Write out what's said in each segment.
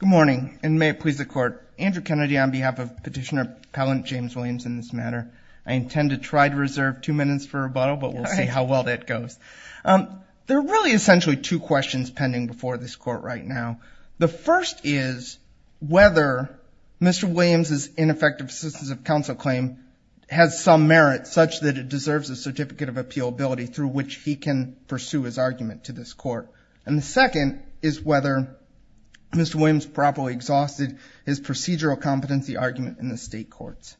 Good morning, and may it please the court. Andrew Kennedy on behalf of Petitioner Appellant James Williams in this matter. I intend to try to reserve two minutes for rebuttal, but we'll see how well that goes. There are really essentially two questions pending before this court right now. The first is whether Mr. Williams' ineffective assistance of counsel claim has some merit such that it deserves a certificate of appealability through which he can pursue his argument to this court. And the second is whether Mr. Williams properly exhausted his procedural competency argument in the state courts.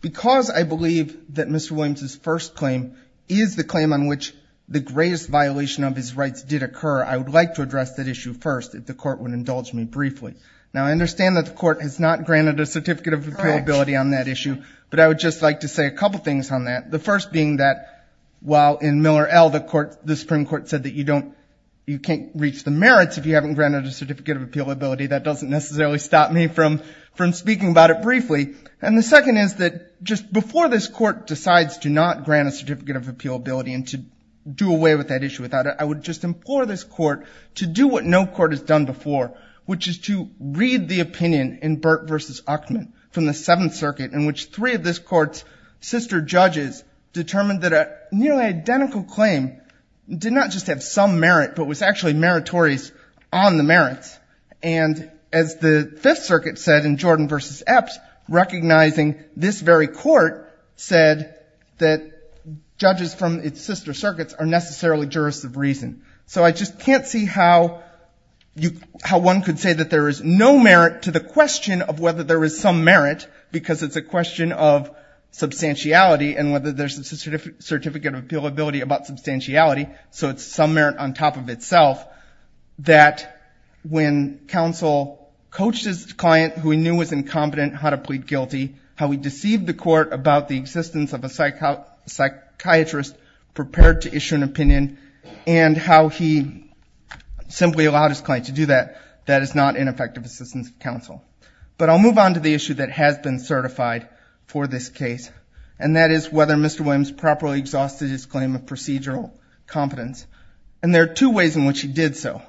Because I believe that Mr. Williams' first claim is the claim on which the greatest violation of his rights did occur, I would like to address that issue first if the court would indulge me briefly. Now I understand that the court has not granted a certificate of appealability on that issue, but I would just like to say a couple things on that. The first being that while in Miller L., the Supreme Court said that you can't reach the merits if you haven't granted a certificate of appealability, that doesn't necessarily stop me from speaking about it briefly. And the second is that just before this court decides to not grant a certificate of appealability and to do away with that issue without it, I would just implore this court to do what no court has done before, which is to read the opinion in Burt v. Uchtman from the Seventh Circuit, in which three of this court's sister judges determined that a nearly identical claim did not just have some merit, but was actually meritorious on the merits. And as the Fifth Circuit said in Jordan v. Epps, recognizing this very court said that judges from its sister circuits are necessarily jurists of reason. So I just can't see how one could say that there is no merit to the question of whether there is some merit, because it's a question of substantiality and whether there's a certificate of appealability about substantiality, so it's some merit on top of itself, that when counsel coached his client, who he knew was incompetent, how to plead guilty, how he deceived the court about the existence of a psychiatrist prepared to issue an opinion, and how he simply allowed his client to do that, that is not an effective assistance to counsel. But I'll move on to the issue that has been certified for this case, and that is whether Mr. Williams properly exhausted his claim of procedural competence. And there are two ways in which he did so,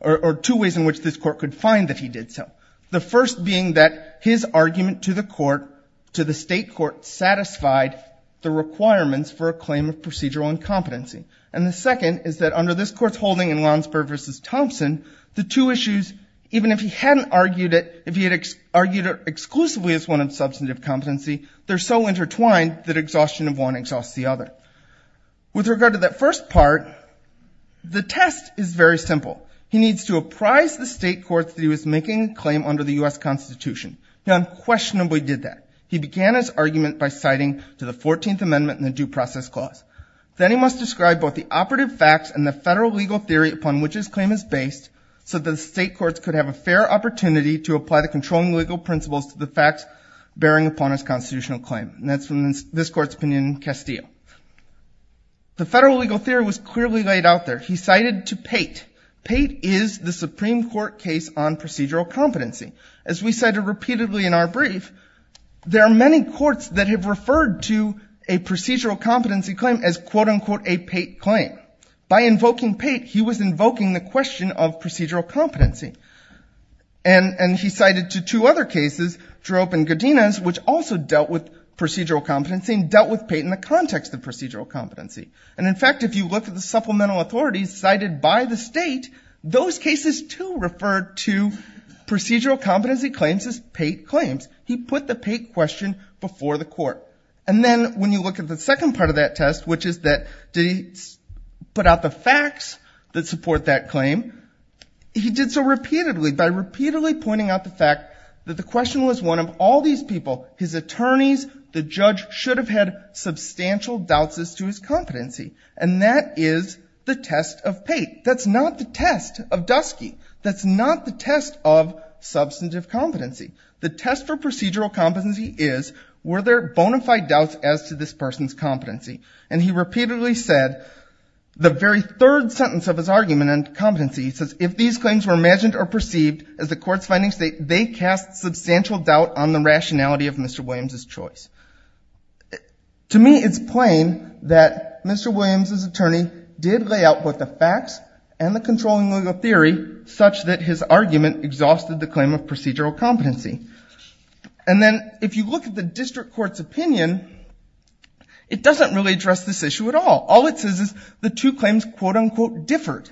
or two ways in which this court could find that he did so. The first being that his argument to the court, to the state court, satisfied the requirements for a claim of procedural incompetency. And the second is that under this court's holding in Lonsburg v. Thompson, the two issues, even if he hadn't argued it, if he had argued it exclusively as one of substantive competency, they're so intertwined that exhaustion of one exhausts the other. With regard to that first part, the test is very simple. He needs to apprise the state court that he was making a claim under the U.S. Constitution. He unquestionably did that. He began his argument by citing to the 14th Amendment and the Due Process Clause. Then he must describe both the operative facts and the federal legal theory upon which his claim is based so that the state courts could have a fair opportunity to apply the controlling legal principles to the facts bearing upon his constitutional claim. And that's from this court's opinion in Castillo. The federal legal theory was clearly laid out there. He cited to Pate. Pate is the Supreme Court case on procedural competency. As we cited repeatedly in our brief, there are many courts that have referred to a procedural competency claim as, quote-unquote, a Pate claim. By invoking Pate, he was invoking the question of procedural competency. And he cited to two other cases, Droop and Godinez, which also dealt with procedural competency and dealt with Pate in the context of procedural competency. And in fact, if you look at the supplemental authorities cited by the state, those cases too refer to procedural competency claims as Pate claims. He put the Pate question before the court. And then when you look at the second part of that test, which is that did he put out the facts that support that claim, he did so repeatedly by repeatedly pointing out the fact that the question was one of all these people, his attorneys, the judge, should have had substantial doubts as to his competency. And that is the test of Pate. That's not the test of Dusky. That's not the test of substantive competency. The test for procedural competency is, were there bona fide doubts as to this person's competency? And he repeatedly said, the very third sentence of his argument on competency, he says, if these claims were imagined or perceived as the court's findings, they cast substantial doubt on the rationality of Mr. Williams' choice. To me, it's plain that Mr. Williams' attorney did lay out both the facts and the controlling legal theory such that his argument exhausted the claim of procedural competency. And then if you look at the district court's opinion, it doesn't really address this issue at all. All it says is the two claims quote-unquote differed.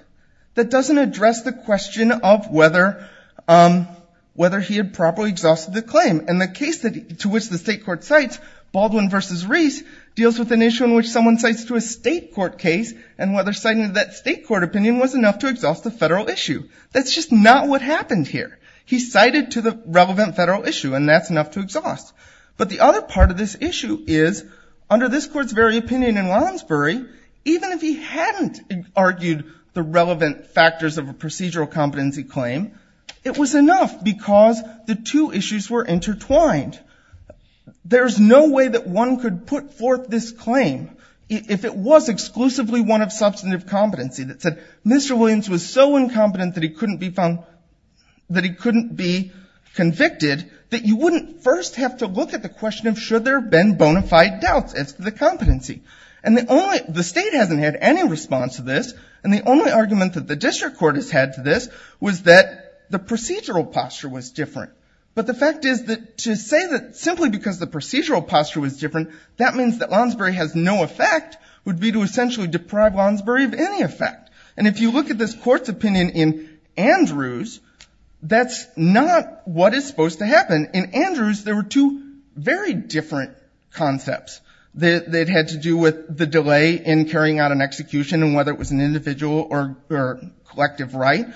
That doesn't address the question of whether he had properly exhausted the claim. And the case to which the state court cites, Baldwin v. Reese, deals with an issue in which someone cites to a state court case and whether citing that state court opinion was enough to exhaust the federal issue. That's just not what happened here. He cited to the relevant federal issue, and that's enough to exhaust. But the other part of this issue is, under this court's very opinion in Wallensbury, even if he hadn't argued the relevant factors of a procedural competency claim, it was enough because the two issues were intertwined. There's no way that one could put forth this claim if it was exclusively one of substantive competency that said Mr. Williams was so incompetent that he couldn't be convicted that you wouldn't first have to look at the question of should there have been bona fide doubts as to the competency. And the state hasn't had any response to this, and the only argument that the district court has had to this was that the procedural posture was different. But the fact is that to say that simply because the procedural posture was different, that means that Wallensbury has no effect would be to essentially deprive Wallensbury of any effect. And if you look at this court's opinion in Andrews, that's not what is supposed to happen. In Andrews there were two very different concepts that had to do with the delay in carrying out an execution and whether it was an individual or collective right.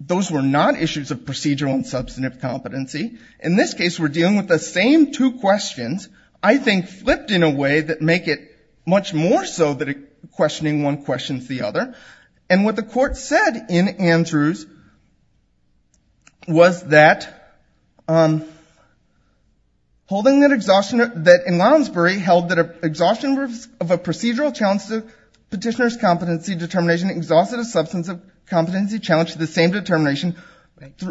Those were not issues of procedural and substantive competency. In this case we're dealing with the same two questions, I think flipped in a way that make it much more so that questioning one questions the other. And what the court said in Andrews was that in Wallensbury held that exhaustion of a procedural challenge to petitioner's competency determination exhausted a substantive competency challenge to the same determination,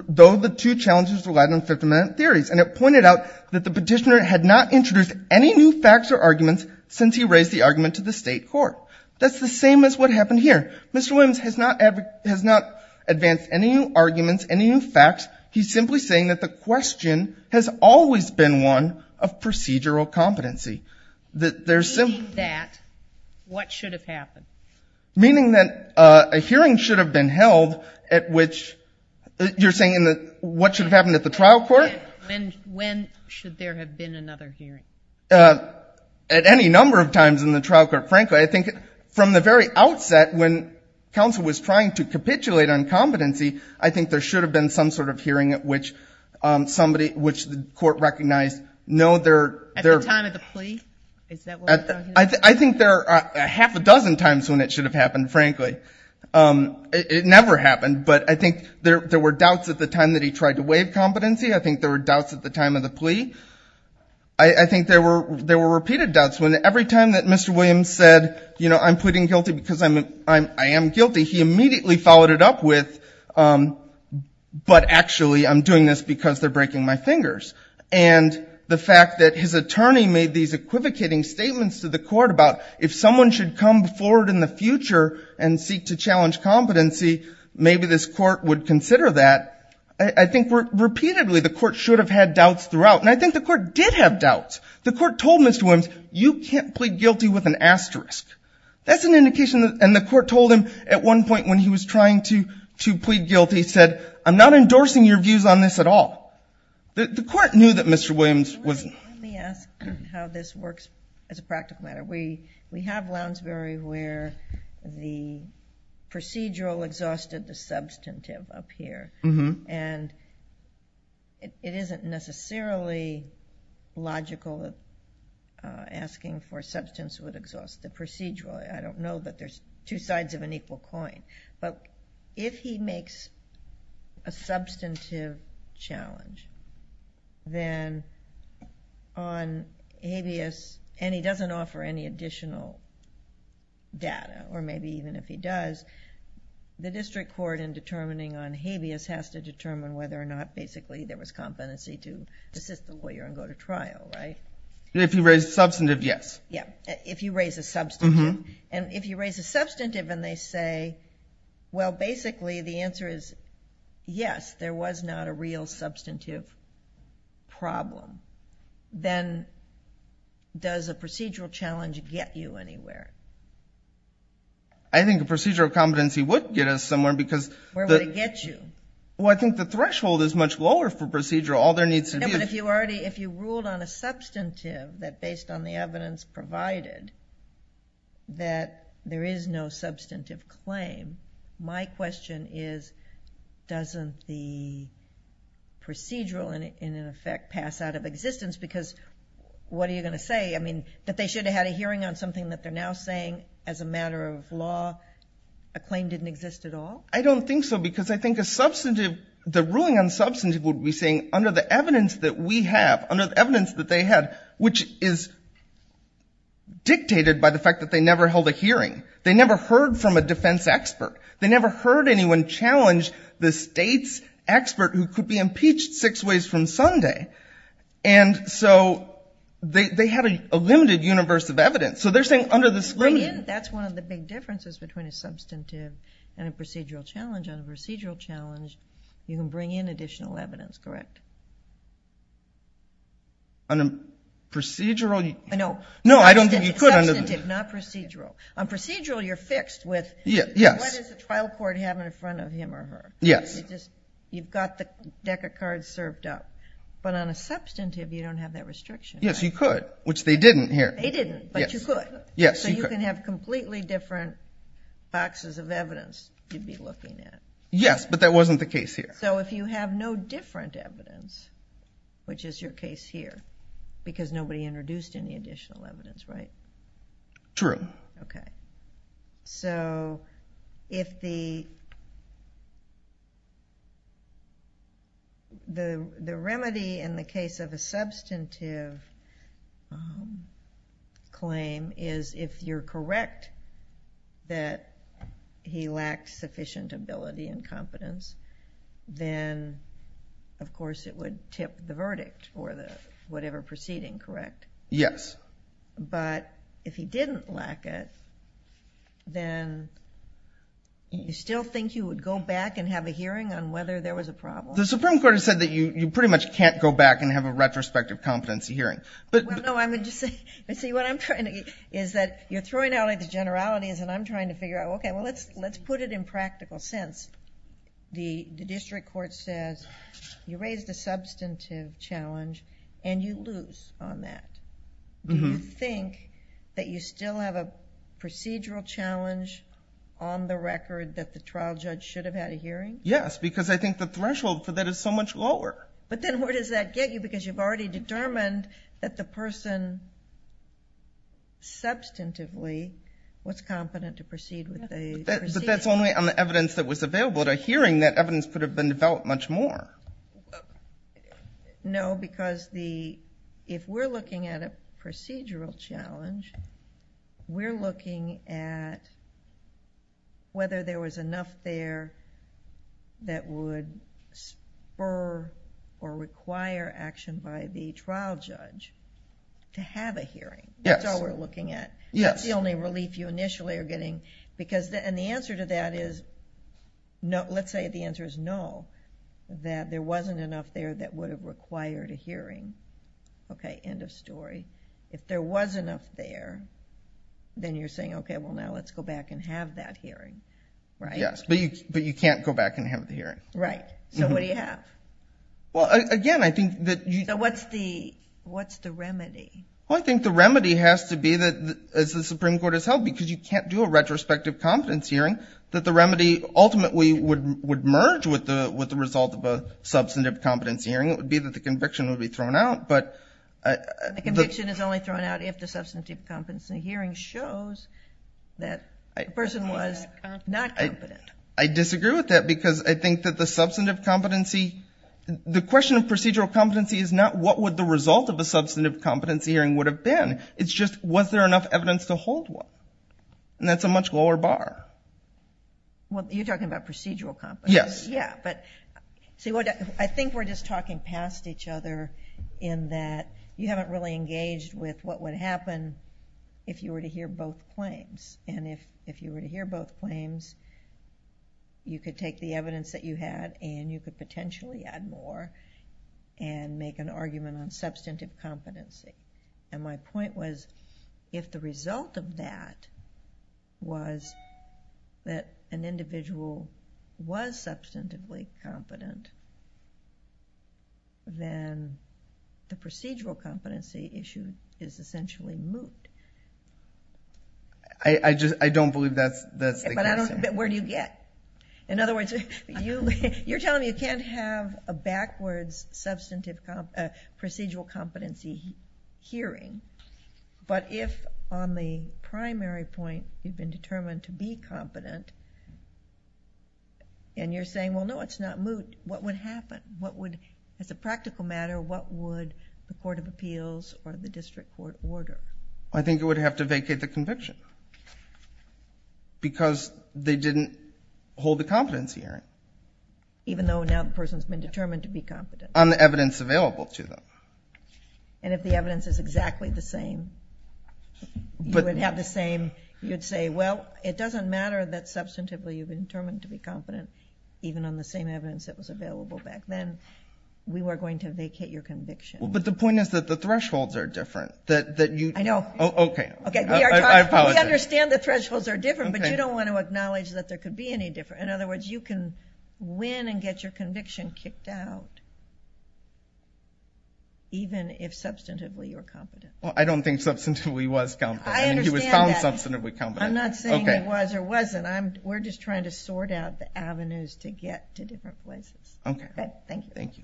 though the two challenges relied on 50-minute theories. And it pointed out that the petitioner had not introduced any new facts or arguments since he raised the argument to the state court. That's the same as what happened here. Mr. Williams has not advanced any new arguments, any new facts. He's simply saying that the question has always been one of procedural competency. Meaning that what should have happened? Meaning that a hearing should have been held at which you're saying what should have happened at the trial court? When should there have been another hearing? At any number of times in the trial court. Frankly, I think from the very outset when counsel was trying to capitulate on competency, I think there should have been some sort of hearing at which somebody, which the court recognized, no, they're At the time of the plea? Is that what you're talking about? I think there are a half a dozen times when it should have happened, frankly. It never happened. But I think there were doubts at the time that he tried to waive competency. I think there were doubts at the time of the plea. I think there were repeated doubts. Every time that Mr. Williams said, I'm pleading guilty because I am guilty, he immediately followed it up with, but actually I'm doing this because they're breaking my fingers. And the fact that his attorney made these equivocating statements to the court about if someone should come forward in the future and seek to challenge competency, maybe this court would consider that. I think repeatedly the court should have had doubts throughout. And I think the court did have doubts. The court told Mr. Williams, you can't plead guilty with an asterisk. That's an indication that, and the court told him at one point when he was trying to plead guilty, said, I'm not endorsing your views on this at all. The court knew that Mr. Williams was- Let me ask how this works as a practical matter. We have Lounsbury where the procedural exhausted the substantive up here. And it isn't necessarily logical asking for substance would exhaust the procedural. I don't know that there's two sides of an equal coin. But if he makes a substantive challenge, then on habeas, and he doesn't offer any additional data or maybe even if he does, the district court in determining on habeas has to determine whether or not basically there was competency to assist the lawyer and go to trial, right? If you raise substantive, yes. If you raise a substantive. And if you raise a substantive and they say, well, basically the answer is yes, there was not a real substantive problem. Then does a procedural challenge get you anywhere? I think a procedural competency would get us somewhere because- Where would it get you? Well, I think the threshold is much lower for procedural. All there needs to be- But if you ruled on a substantive that based on the evidence provided that there is no doesn't the procedural in effect pass out of existence? Because what are you going to say? I mean, that they should have had a hearing on something that they're now saying as a matter of law, a claim didn't exist at all? I don't think so. Because I think a substantive, the ruling on substantive would be saying under the evidence that we have, under the evidence that they had, which is dictated by the fact that they never held a hearing. They never heard from a defense expert. They never heard anyone challenge the state's expert who could be impeached six ways from Sunday. And so they had a limited universe of evidence. So they're saying under this limit- That's one of the big differences between a substantive and a procedural challenge. On a procedural challenge, you can bring in additional evidence, correct? On a procedural- No. No, I don't think you could under- Substantive, not procedural. On procedural, you're fixed with- Yes. What does the trial court have in front of him or her? Yes. You've got the deck of cards served up. But on a substantive, you don't have that restriction. Yes, you could, which they didn't here. They didn't, but you could. Yes, you could. So you can have completely different boxes of evidence you'd be looking at. Yes, but that wasn't the case here. So if you have no different evidence, which is your case here, because nobody introduced any additional evidence, right? True. Okay. So if the remedy in the case of a substantive claim is if you're correct that he lacked sufficient ability and competence, then of course it would tip the verdict for the whatever proceeding, correct? Yes. But if he didn't lack it, then you still think you would go back and have a hearing on whether there was a problem? The Supreme Court has said that you pretty much can't go back and have a retrospective competency hearing. Well, no, I'm just saying, what I'm trying to get is that you're throwing out the generalities and I'm trying to figure out, okay, well, let's put it in practical sense. The district court says you raised a substantive challenge and you lose on that. Do you think that you still have a procedural challenge on the record that the trial judge should have had a hearing? Yes, because I think the threshold for that is so much lower. But then where does that get you? Because you've already determined that the person substantively was competent to proceed with the proceeding. But that's only on the evidence that was available at a hearing. That evidence could have been developed much more. No, because if we're looking at a procedural challenge, we're looking at whether there was enough there that would spur or require action by the trial judge to have a hearing. That's all we're looking at. Yes. That's the only relief you initially are getting. And the answer to that is, let's say the answer is no, that there wasn't enough there that would have required a hearing. Okay, end of story. If there was enough there, then you're saying, okay, well, now let's go back and have that hearing, right? Yes, but you can't go back and have the hearing. Right. So what do you have? Well, again, I think that you... So what's the remedy? Well, I think the remedy has to be that, as the Supreme Court has held, because you can't do a retrospective competence hearing, that the remedy ultimately would merge with the result of a substantive competence hearing. It would be that the conviction would be thrown out, but... The conviction is only thrown out if the substantive competency hearing shows that the person was not competent. I disagree with that because I think that the substantive competency, the question of substantive competency hearing would have been, it's just, was there enough evidence to hold one? And that's a much lower bar. Well, you're talking about procedural competence. Yes. Yeah, but... I think we're just talking past each other in that you haven't really engaged with what would happen if you were to hear both claims. And if you were to hear both claims, you could take the evidence that you had and you could potentially add more and make an argument on substantive competency. And my point was, if the result of that was that an individual was substantively competent, then the procedural competency issue is essentially moot. I don't believe that's the case. Where do you get? In other words, you're telling me you can't have a backwards substantive procedural competency hearing, but if on the primary point you've been determined to be competent and you're saying, well, no, it's not moot, what would happen? What would, as a practical matter, what would the Court of Appeals or the District Court order? I think it would have to vacate the conviction because they didn't hold the competency hearing. Even though now the person's been determined to be competent. On the evidence available to them. And if the evidence is exactly the same, you would have the same, you'd say, well, it doesn't matter that substantively you've been determined to be competent, even on the same evidence that was available back then, we were going to vacate your conviction. But the point is that the thresholds are different. I know. Okay. I apologize. We understand the thresholds are different, but you don't want to acknowledge that there was something kicked out, even if substantively you're competent. I don't think substantively was competent. I understand that. He was found substantively competent. I'm not saying it was or wasn't. We're just trying to sort out the avenues to get to different places. Okay. Thank you. Thank you.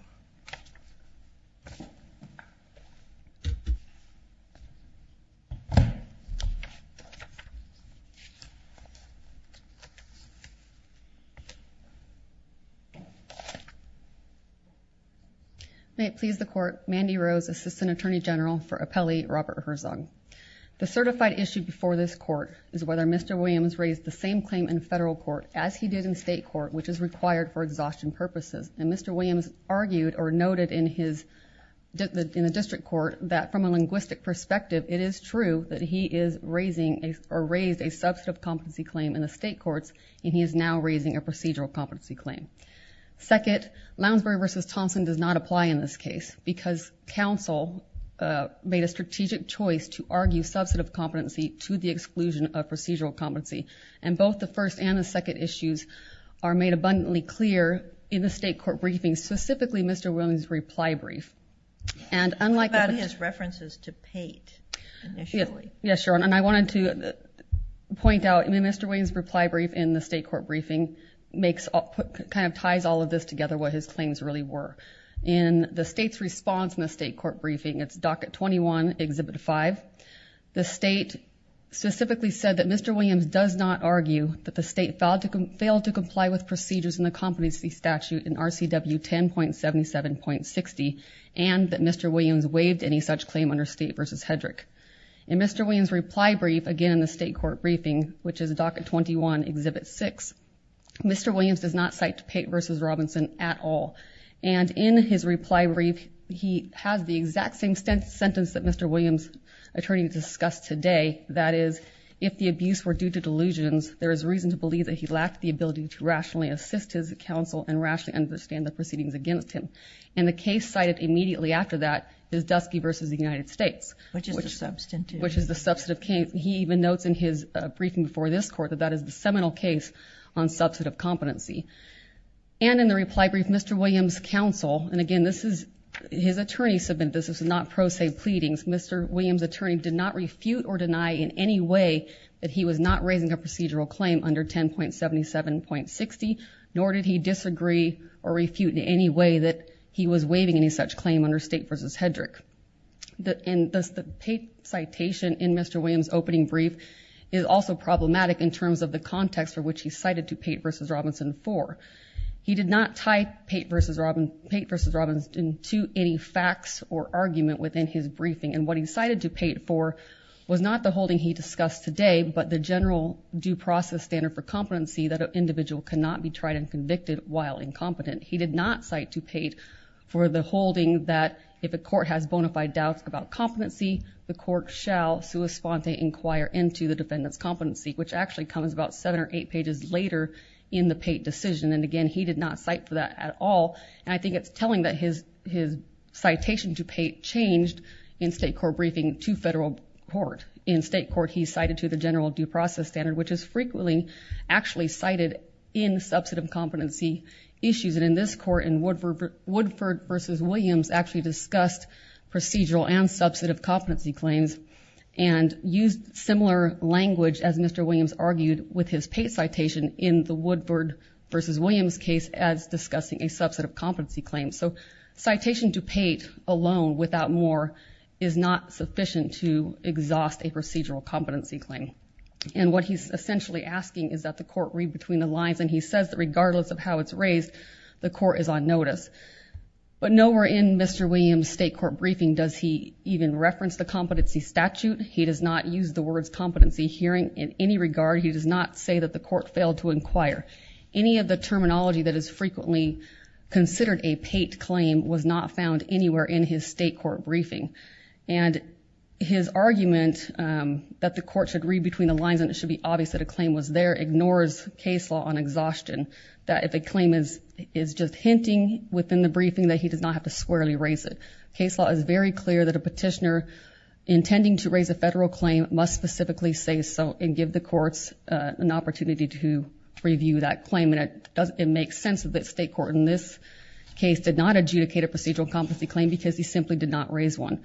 May it please the court, Mandy Rose, Assistant Attorney General for Appellee Robert Herzog. The certified issue before this court is whether Mr. Williams raised the same claim in federal court as he did in state court, which is required for exhaustion purposes. And Mr. Williams argued or noted in his, in the district court that from a linguistic perspective, it is true that he is raising or raised a substantive competency claim in the state courts and he is now raising a procedural competency claim. Second, Lounsbury v. Thompson does not apply in this case because counsel made a strategic choice to argue substantive competency to the exclusion of procedural competency. And both the first and the second issues are made abundantly clear in the state court briefings, specifically Mr. Williams' reply brief. And unlike... What about his references to Pate initially? Yeah. Yeah. Sure. And I wanted to point out in Mr. Williams' reply brief in the state court briefing makes all, kind of ties all of this together, what his claims really were. In the state's response in the state court briefing, it's docket 21, exhibit 5. The state specifically said that Mr. Williams does not argue that the state failed to comply with procedures in the competency statute in RCW 10.77.60 and that Mr. Williams waived any such claim under state v. Hedrick. In Mr. Williams' reply brief, again in the state court briefing, which is docket 21, exhibit 6, Mr. Williams does not cite Pate v. Robinson at all. And in his reply brief, he has the exact same sentence that Mr. Williams' attorney discussed today. That is, if the abuse were due to delusions, there is reason to believe that he lacked the ability to rationally assist his counsel and rationally understand the proceedings against him. And the case cited immediately after that is Dusky v. United States. Which is the substantive... Which is the substantive case. He even notes in his briefing before this court that that is the seminal case on substantive competency. And in the reply brief, Mr. Williams' counsel, and again this is his attorney's submit, this is not pro se pleadings, Mr. Williams' attorney did not refute or deny in any way that he was not raising a procedural claim under 10.77.60, nor did he disagree or refute in any way that he was waiving any such claim under state v. Hedrick. And the Pate citation in Mr. Williams' opening brief is also problematic in terms of the context for which he cited Dupayte v. Robinson for. He did not tie Pate v. Robinson to any facts or argument within his briefing. And what he cited Dupayte for was not the holding he discussed today, but the general due process standard for competency that an individual cannot be tried and convicted while incompetent. He did not cite Dupayte for the holding that if a court has bona fide doubts about competency, the court shall sua sponte inquire into the defendant's competency, which actually comes about seven or eight pages later in the Pate decision. And again, he did not cite for that at all. And I think it's telling that his citation to Pate changed in state court briefing to federal court. In state court, he cited to the general due process standard, which is frequently actually cited in substantive competency issues. And in this court, in Woodford v. Williams, actually discussed procedural and substantive competency claims and used similar language, as Mr. Williams argued with his Pate citation in the Woodford v. Williams case as discussing a substantive competency claim. So citation to Pate alone without more is not sufficient to exhaust a procedural competency claim. And what he's essentially asking is that the court read between the lines. And he says that regardless of how it's raised, the court is on notice. But nowhere in Mr. Williams' state court briefing does he even reference the competency statute. He does not use the words competency hearing in any regard. He does not say that the court failed to inquire. Any of the terminology that is frequently considered a Pate claim was not found anywhere in his state court briefing. And his argument that the court should read between the lines and it should be obvious that a claim was there ignores case law on exhaustion, that if a claim is just hinting within the briefing that he does not have to squarely raise it. Case law is very clear that a petitioner intending to raise a federal claim must specifically say so and give the courts an opportunity to review that claim. And it makes sense that the state court in this case did not adjudicate a procedural competency claim because he simply did not raise one.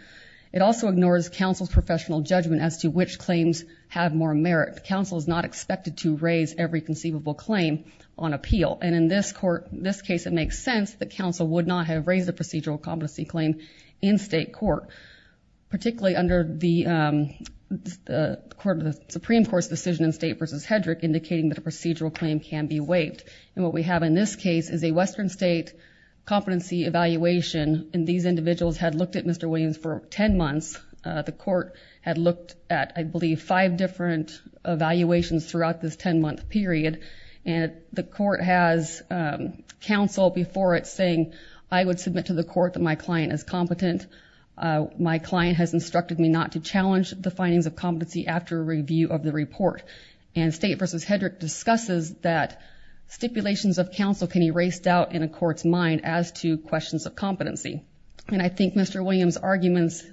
It also ignores counsel's professional judgment as to which claims have more merit. The counsel is not expected to raise every conceivable claim on appeal. And in this court, in this case, it makes sense that counsel would not have raised a procedural competency claim in state court, particularly under the Supreme Court's decision in State v. Hedrick indicating that a procedural claim can be waived. And what we have in this case is a Western State competency evaluation. And these individuals had looked at Mr. Williams for 10 months. The court had looked at, I believe, five different evaluations throughout this 10-month period. And the court has counsel before it saying, I would submit to the court that my client is competent. My client has instructed me not to challenge the findings of competency after review of the report. And State v. Hedrick discusses that stipulations of counsel can be raised out in a court's mind as to questions of competency. And I think Mr. Williams' arguments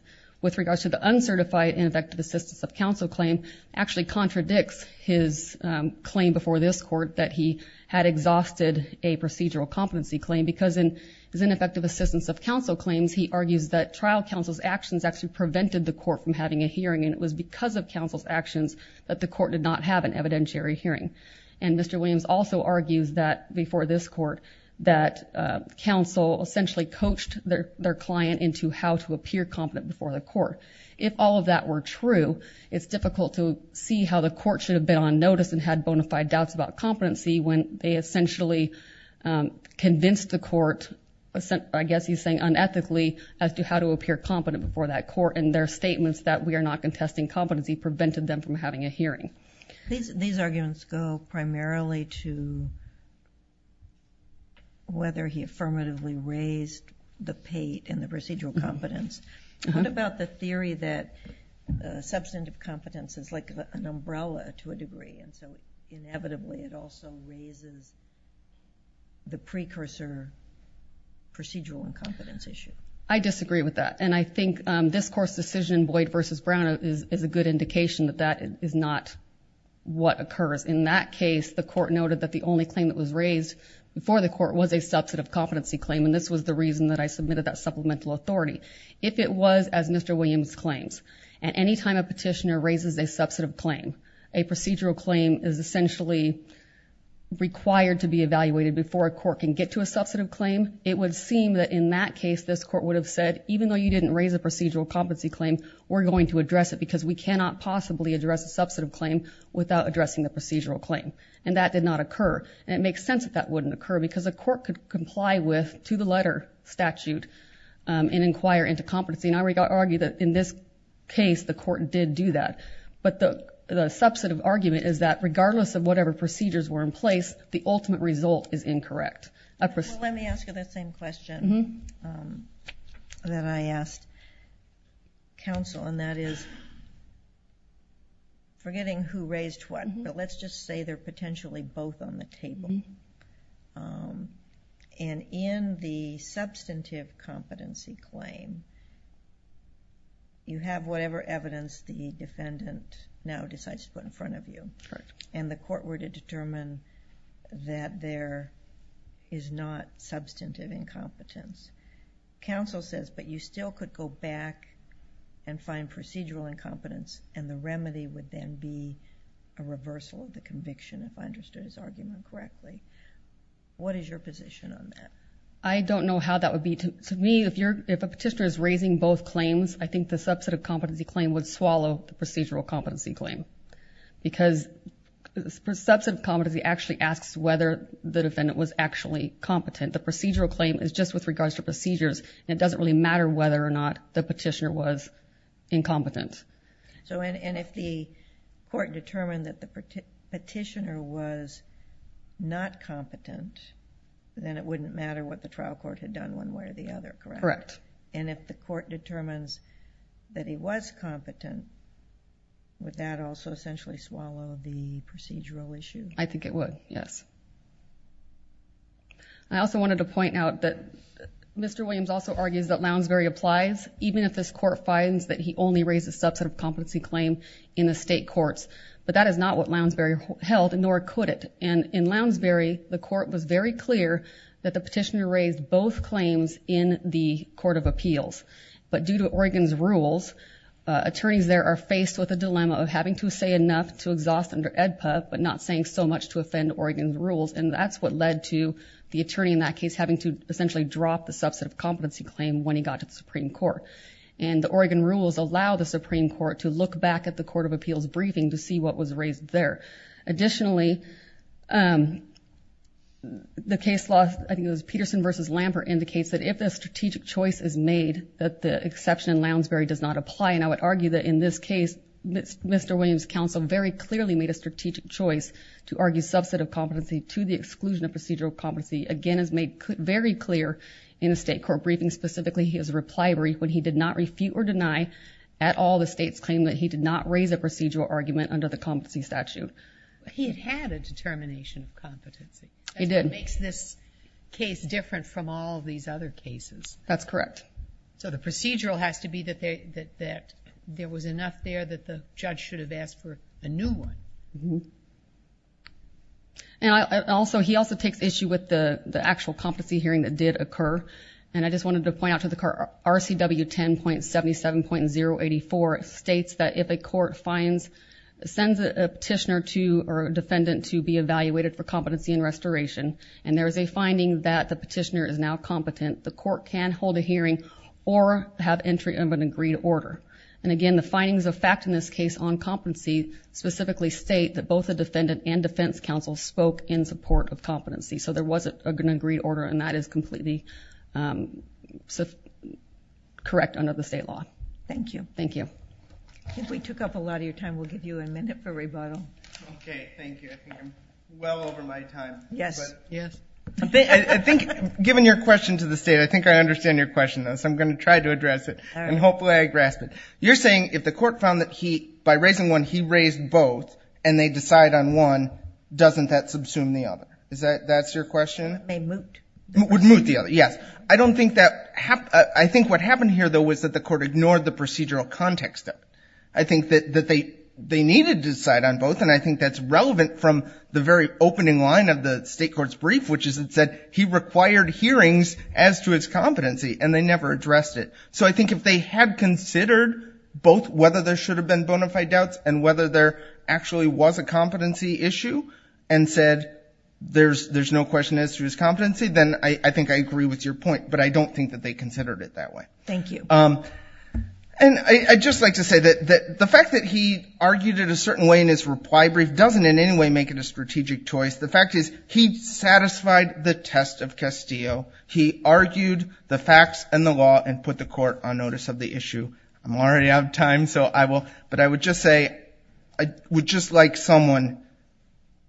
with regards to the uncertified ineffective assistance of counsel claim actually contradicts his claim before this court that he had exhausted a procedural competency claim. Because in his ineffective assistance of counsel claims, he argues that trial counsel's actions actually prevented the court from having a hearing. And it was because of counsel's actions that the court did not have an evidentiary hearing. And Mr. Williams also argues that before this court, that counsel essentially coached their client into how to appear competent before the court. If all of that were true, it's difficult to see how the court should have been on notice and had bona fide doubts about competency when they essentially convinced the court, I guess he's saying unethically, as to how to appear competent before that court. And their statements that we are not contesting competency prevented them from having a hearing. These arguments go primarily to whether he affirmatively raised the pate in the procedural competence. What about the theory that substantive competence is like an umbrella to a degree? And so inevitably, it also raises the precursor procedural incompetence issue. I disagree with that. And I think this court's decision, Boyd versus Brown, is a good indication that that is not what occurs. In that case, the court noted that the only claim that was raised before the court was a substantive competency claim. And this was the reason that I submitted that supplemental authority. If it was as Mr. Williams claims, and any time a petitioner raises a substantive claim, a procedural claim is essentially required to be evaluated before a court can get to a substantive claim, it would seem that in that case, this court would have said, even though you didn't raise a procedural competency claim, we're going to address it because we cannot possibly address a substantive claim without addressing the procedural claim. And that did not occur. And it makes sense that that wouldn't occur because a court could comply with, to the letter statute, and inquire into competency. And I would argue that in this case, the court did do that. But the substantive argument is that regardless of whatever procedures were in place, the ultimate result is incorrect. I presume...... Well, let me ask you the same question that I asked counsel, and that is, forgetting who raised what, but let's just say they're potentially both on the table. And in the substantive competency claim, you have whatever evidence the defendant now decides to put in front of you. And the court were to determine that there is not substantive incompetence. Counsel says, but you still could go back and find procedural incompetence, and the remedy would then be a reversal of the conviction, if I understood his argument correctly. What is your position on that? I don't know how that would be. To me, if a petitioner is raising both claims, I think the substantive competency claim would swallow the procedural competency claim. Because substantive competency actually asks whether the defendant was actually competent. The procedural claim is just with regards to procedures, and it doesn't really matter whether or not the petitioner was incompetent. And if the court determined that the petitioner was not competent, then it wouldn't matter what the trial court had done one way or the other, correct? Correct. And if the court determines that he was competent, would that also essentially swallow the procedural issue? I think it would, yes. I also wanted to point out that Mr. Williams also argues that Lounsbury applies even if this court finds that he only raised a substantive competency claim in the state courts. But that is not what Lounsbury held, nor could it. And in Lounsbury, the court was very clear that the petitioner raised both claims in the Court of Appeals. But due to Oregon's rules, attorneys there are faced with a dilemma of having to say enough to exhaust under AEDPA, but not saying so much to offend Oregon's rules. And that's what led to the attorney in that case having to essentially drop the substantive competency claim when he got to the Supreme Court. And the Oregon rules allow the Supreme Court to look back at the Court of Appeals briefing to see what was raised there. Additionally, the case law, I think it was Peterson v. Lampert, indicates that if a strategic choice is made, that the exception in Lounsbury does not apply. And I would argue that in this case, Mr. Williams' counsel very clearly made a strategic choice to argue substantive competency to the exclusion of procedural competency. Again, it's made very clear in the state court briefing, specifically his reply brief when he did not refute or deny at all the state's claim that he did not raise a procedural argument under the competency statute. He had had a determination of competency. He did. And that's what makes this case different from all of these other cases. That's correct. So, the procedural has to be that there was enough there that the judge should have asked for a new one. And also, he also takes issue with the actual competency hearing that did occur. And I just wanted to point out to the court, RCW 10.77.084 states that if a court finds, sends a petitioner to, or a defendant to be evaluated for competency in restoration, and there is a finding that the petitioner is now competent, the court can hold a hearing or have entry of an agreed order. And again, the findings of fact in this case on competency specifically state that both the defendant and defense counsel spoke in support of competency. So there was an agreed order and that is completely correct under the state law. Thank you. Thank you. I think we took up a lot of your time. We'll give you a minute for rebuttal. Okay. Thank you. I think I'm well over my time. Yes. Yes. I think, given your question to the state, I think I understand your question, though. So I'm going to try to address it. All right. And hopefully I grasp it. You're saying if the court found that he, by raising one, he raised both and they decide on one, doesn't that subsume the other? Is that, that's your question? It may moot. It would moot the other. Yes. I don't think that, I think what happened here, though, was that the court ignored the procedural context of it. I think that they needed to decide on both and I think that's relevant from the very opening line of the state court's brief, which is it said he required hearings as to his competency and they never addressed it. So I think if they had considered both whether there should have been bona fide doubts and whether there actually was a competency issue and said there's no question as to his competency, then I think I agree with your point, but I don't think that they considered it that way. Thank you. And I'd just like to say that the fact that he argued it a certain way in his reply brief doesn't in any way make it a strategic choice. The fact is he satisfied the test of Castillo. He argued the facts and the law and put the court on notice of the issue. I'm already out of time, so I will, but I would just say, I would just like someone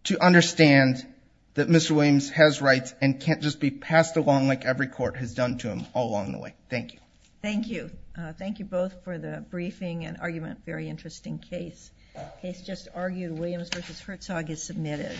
to understand that Mr. Williams has rights and can't just be passed along like every court has done to him all along the way. Thank you. Thank you. Thank you both for the briefing and argument. Very interesting case. The case just argued, Williams v. Herzog is submitted.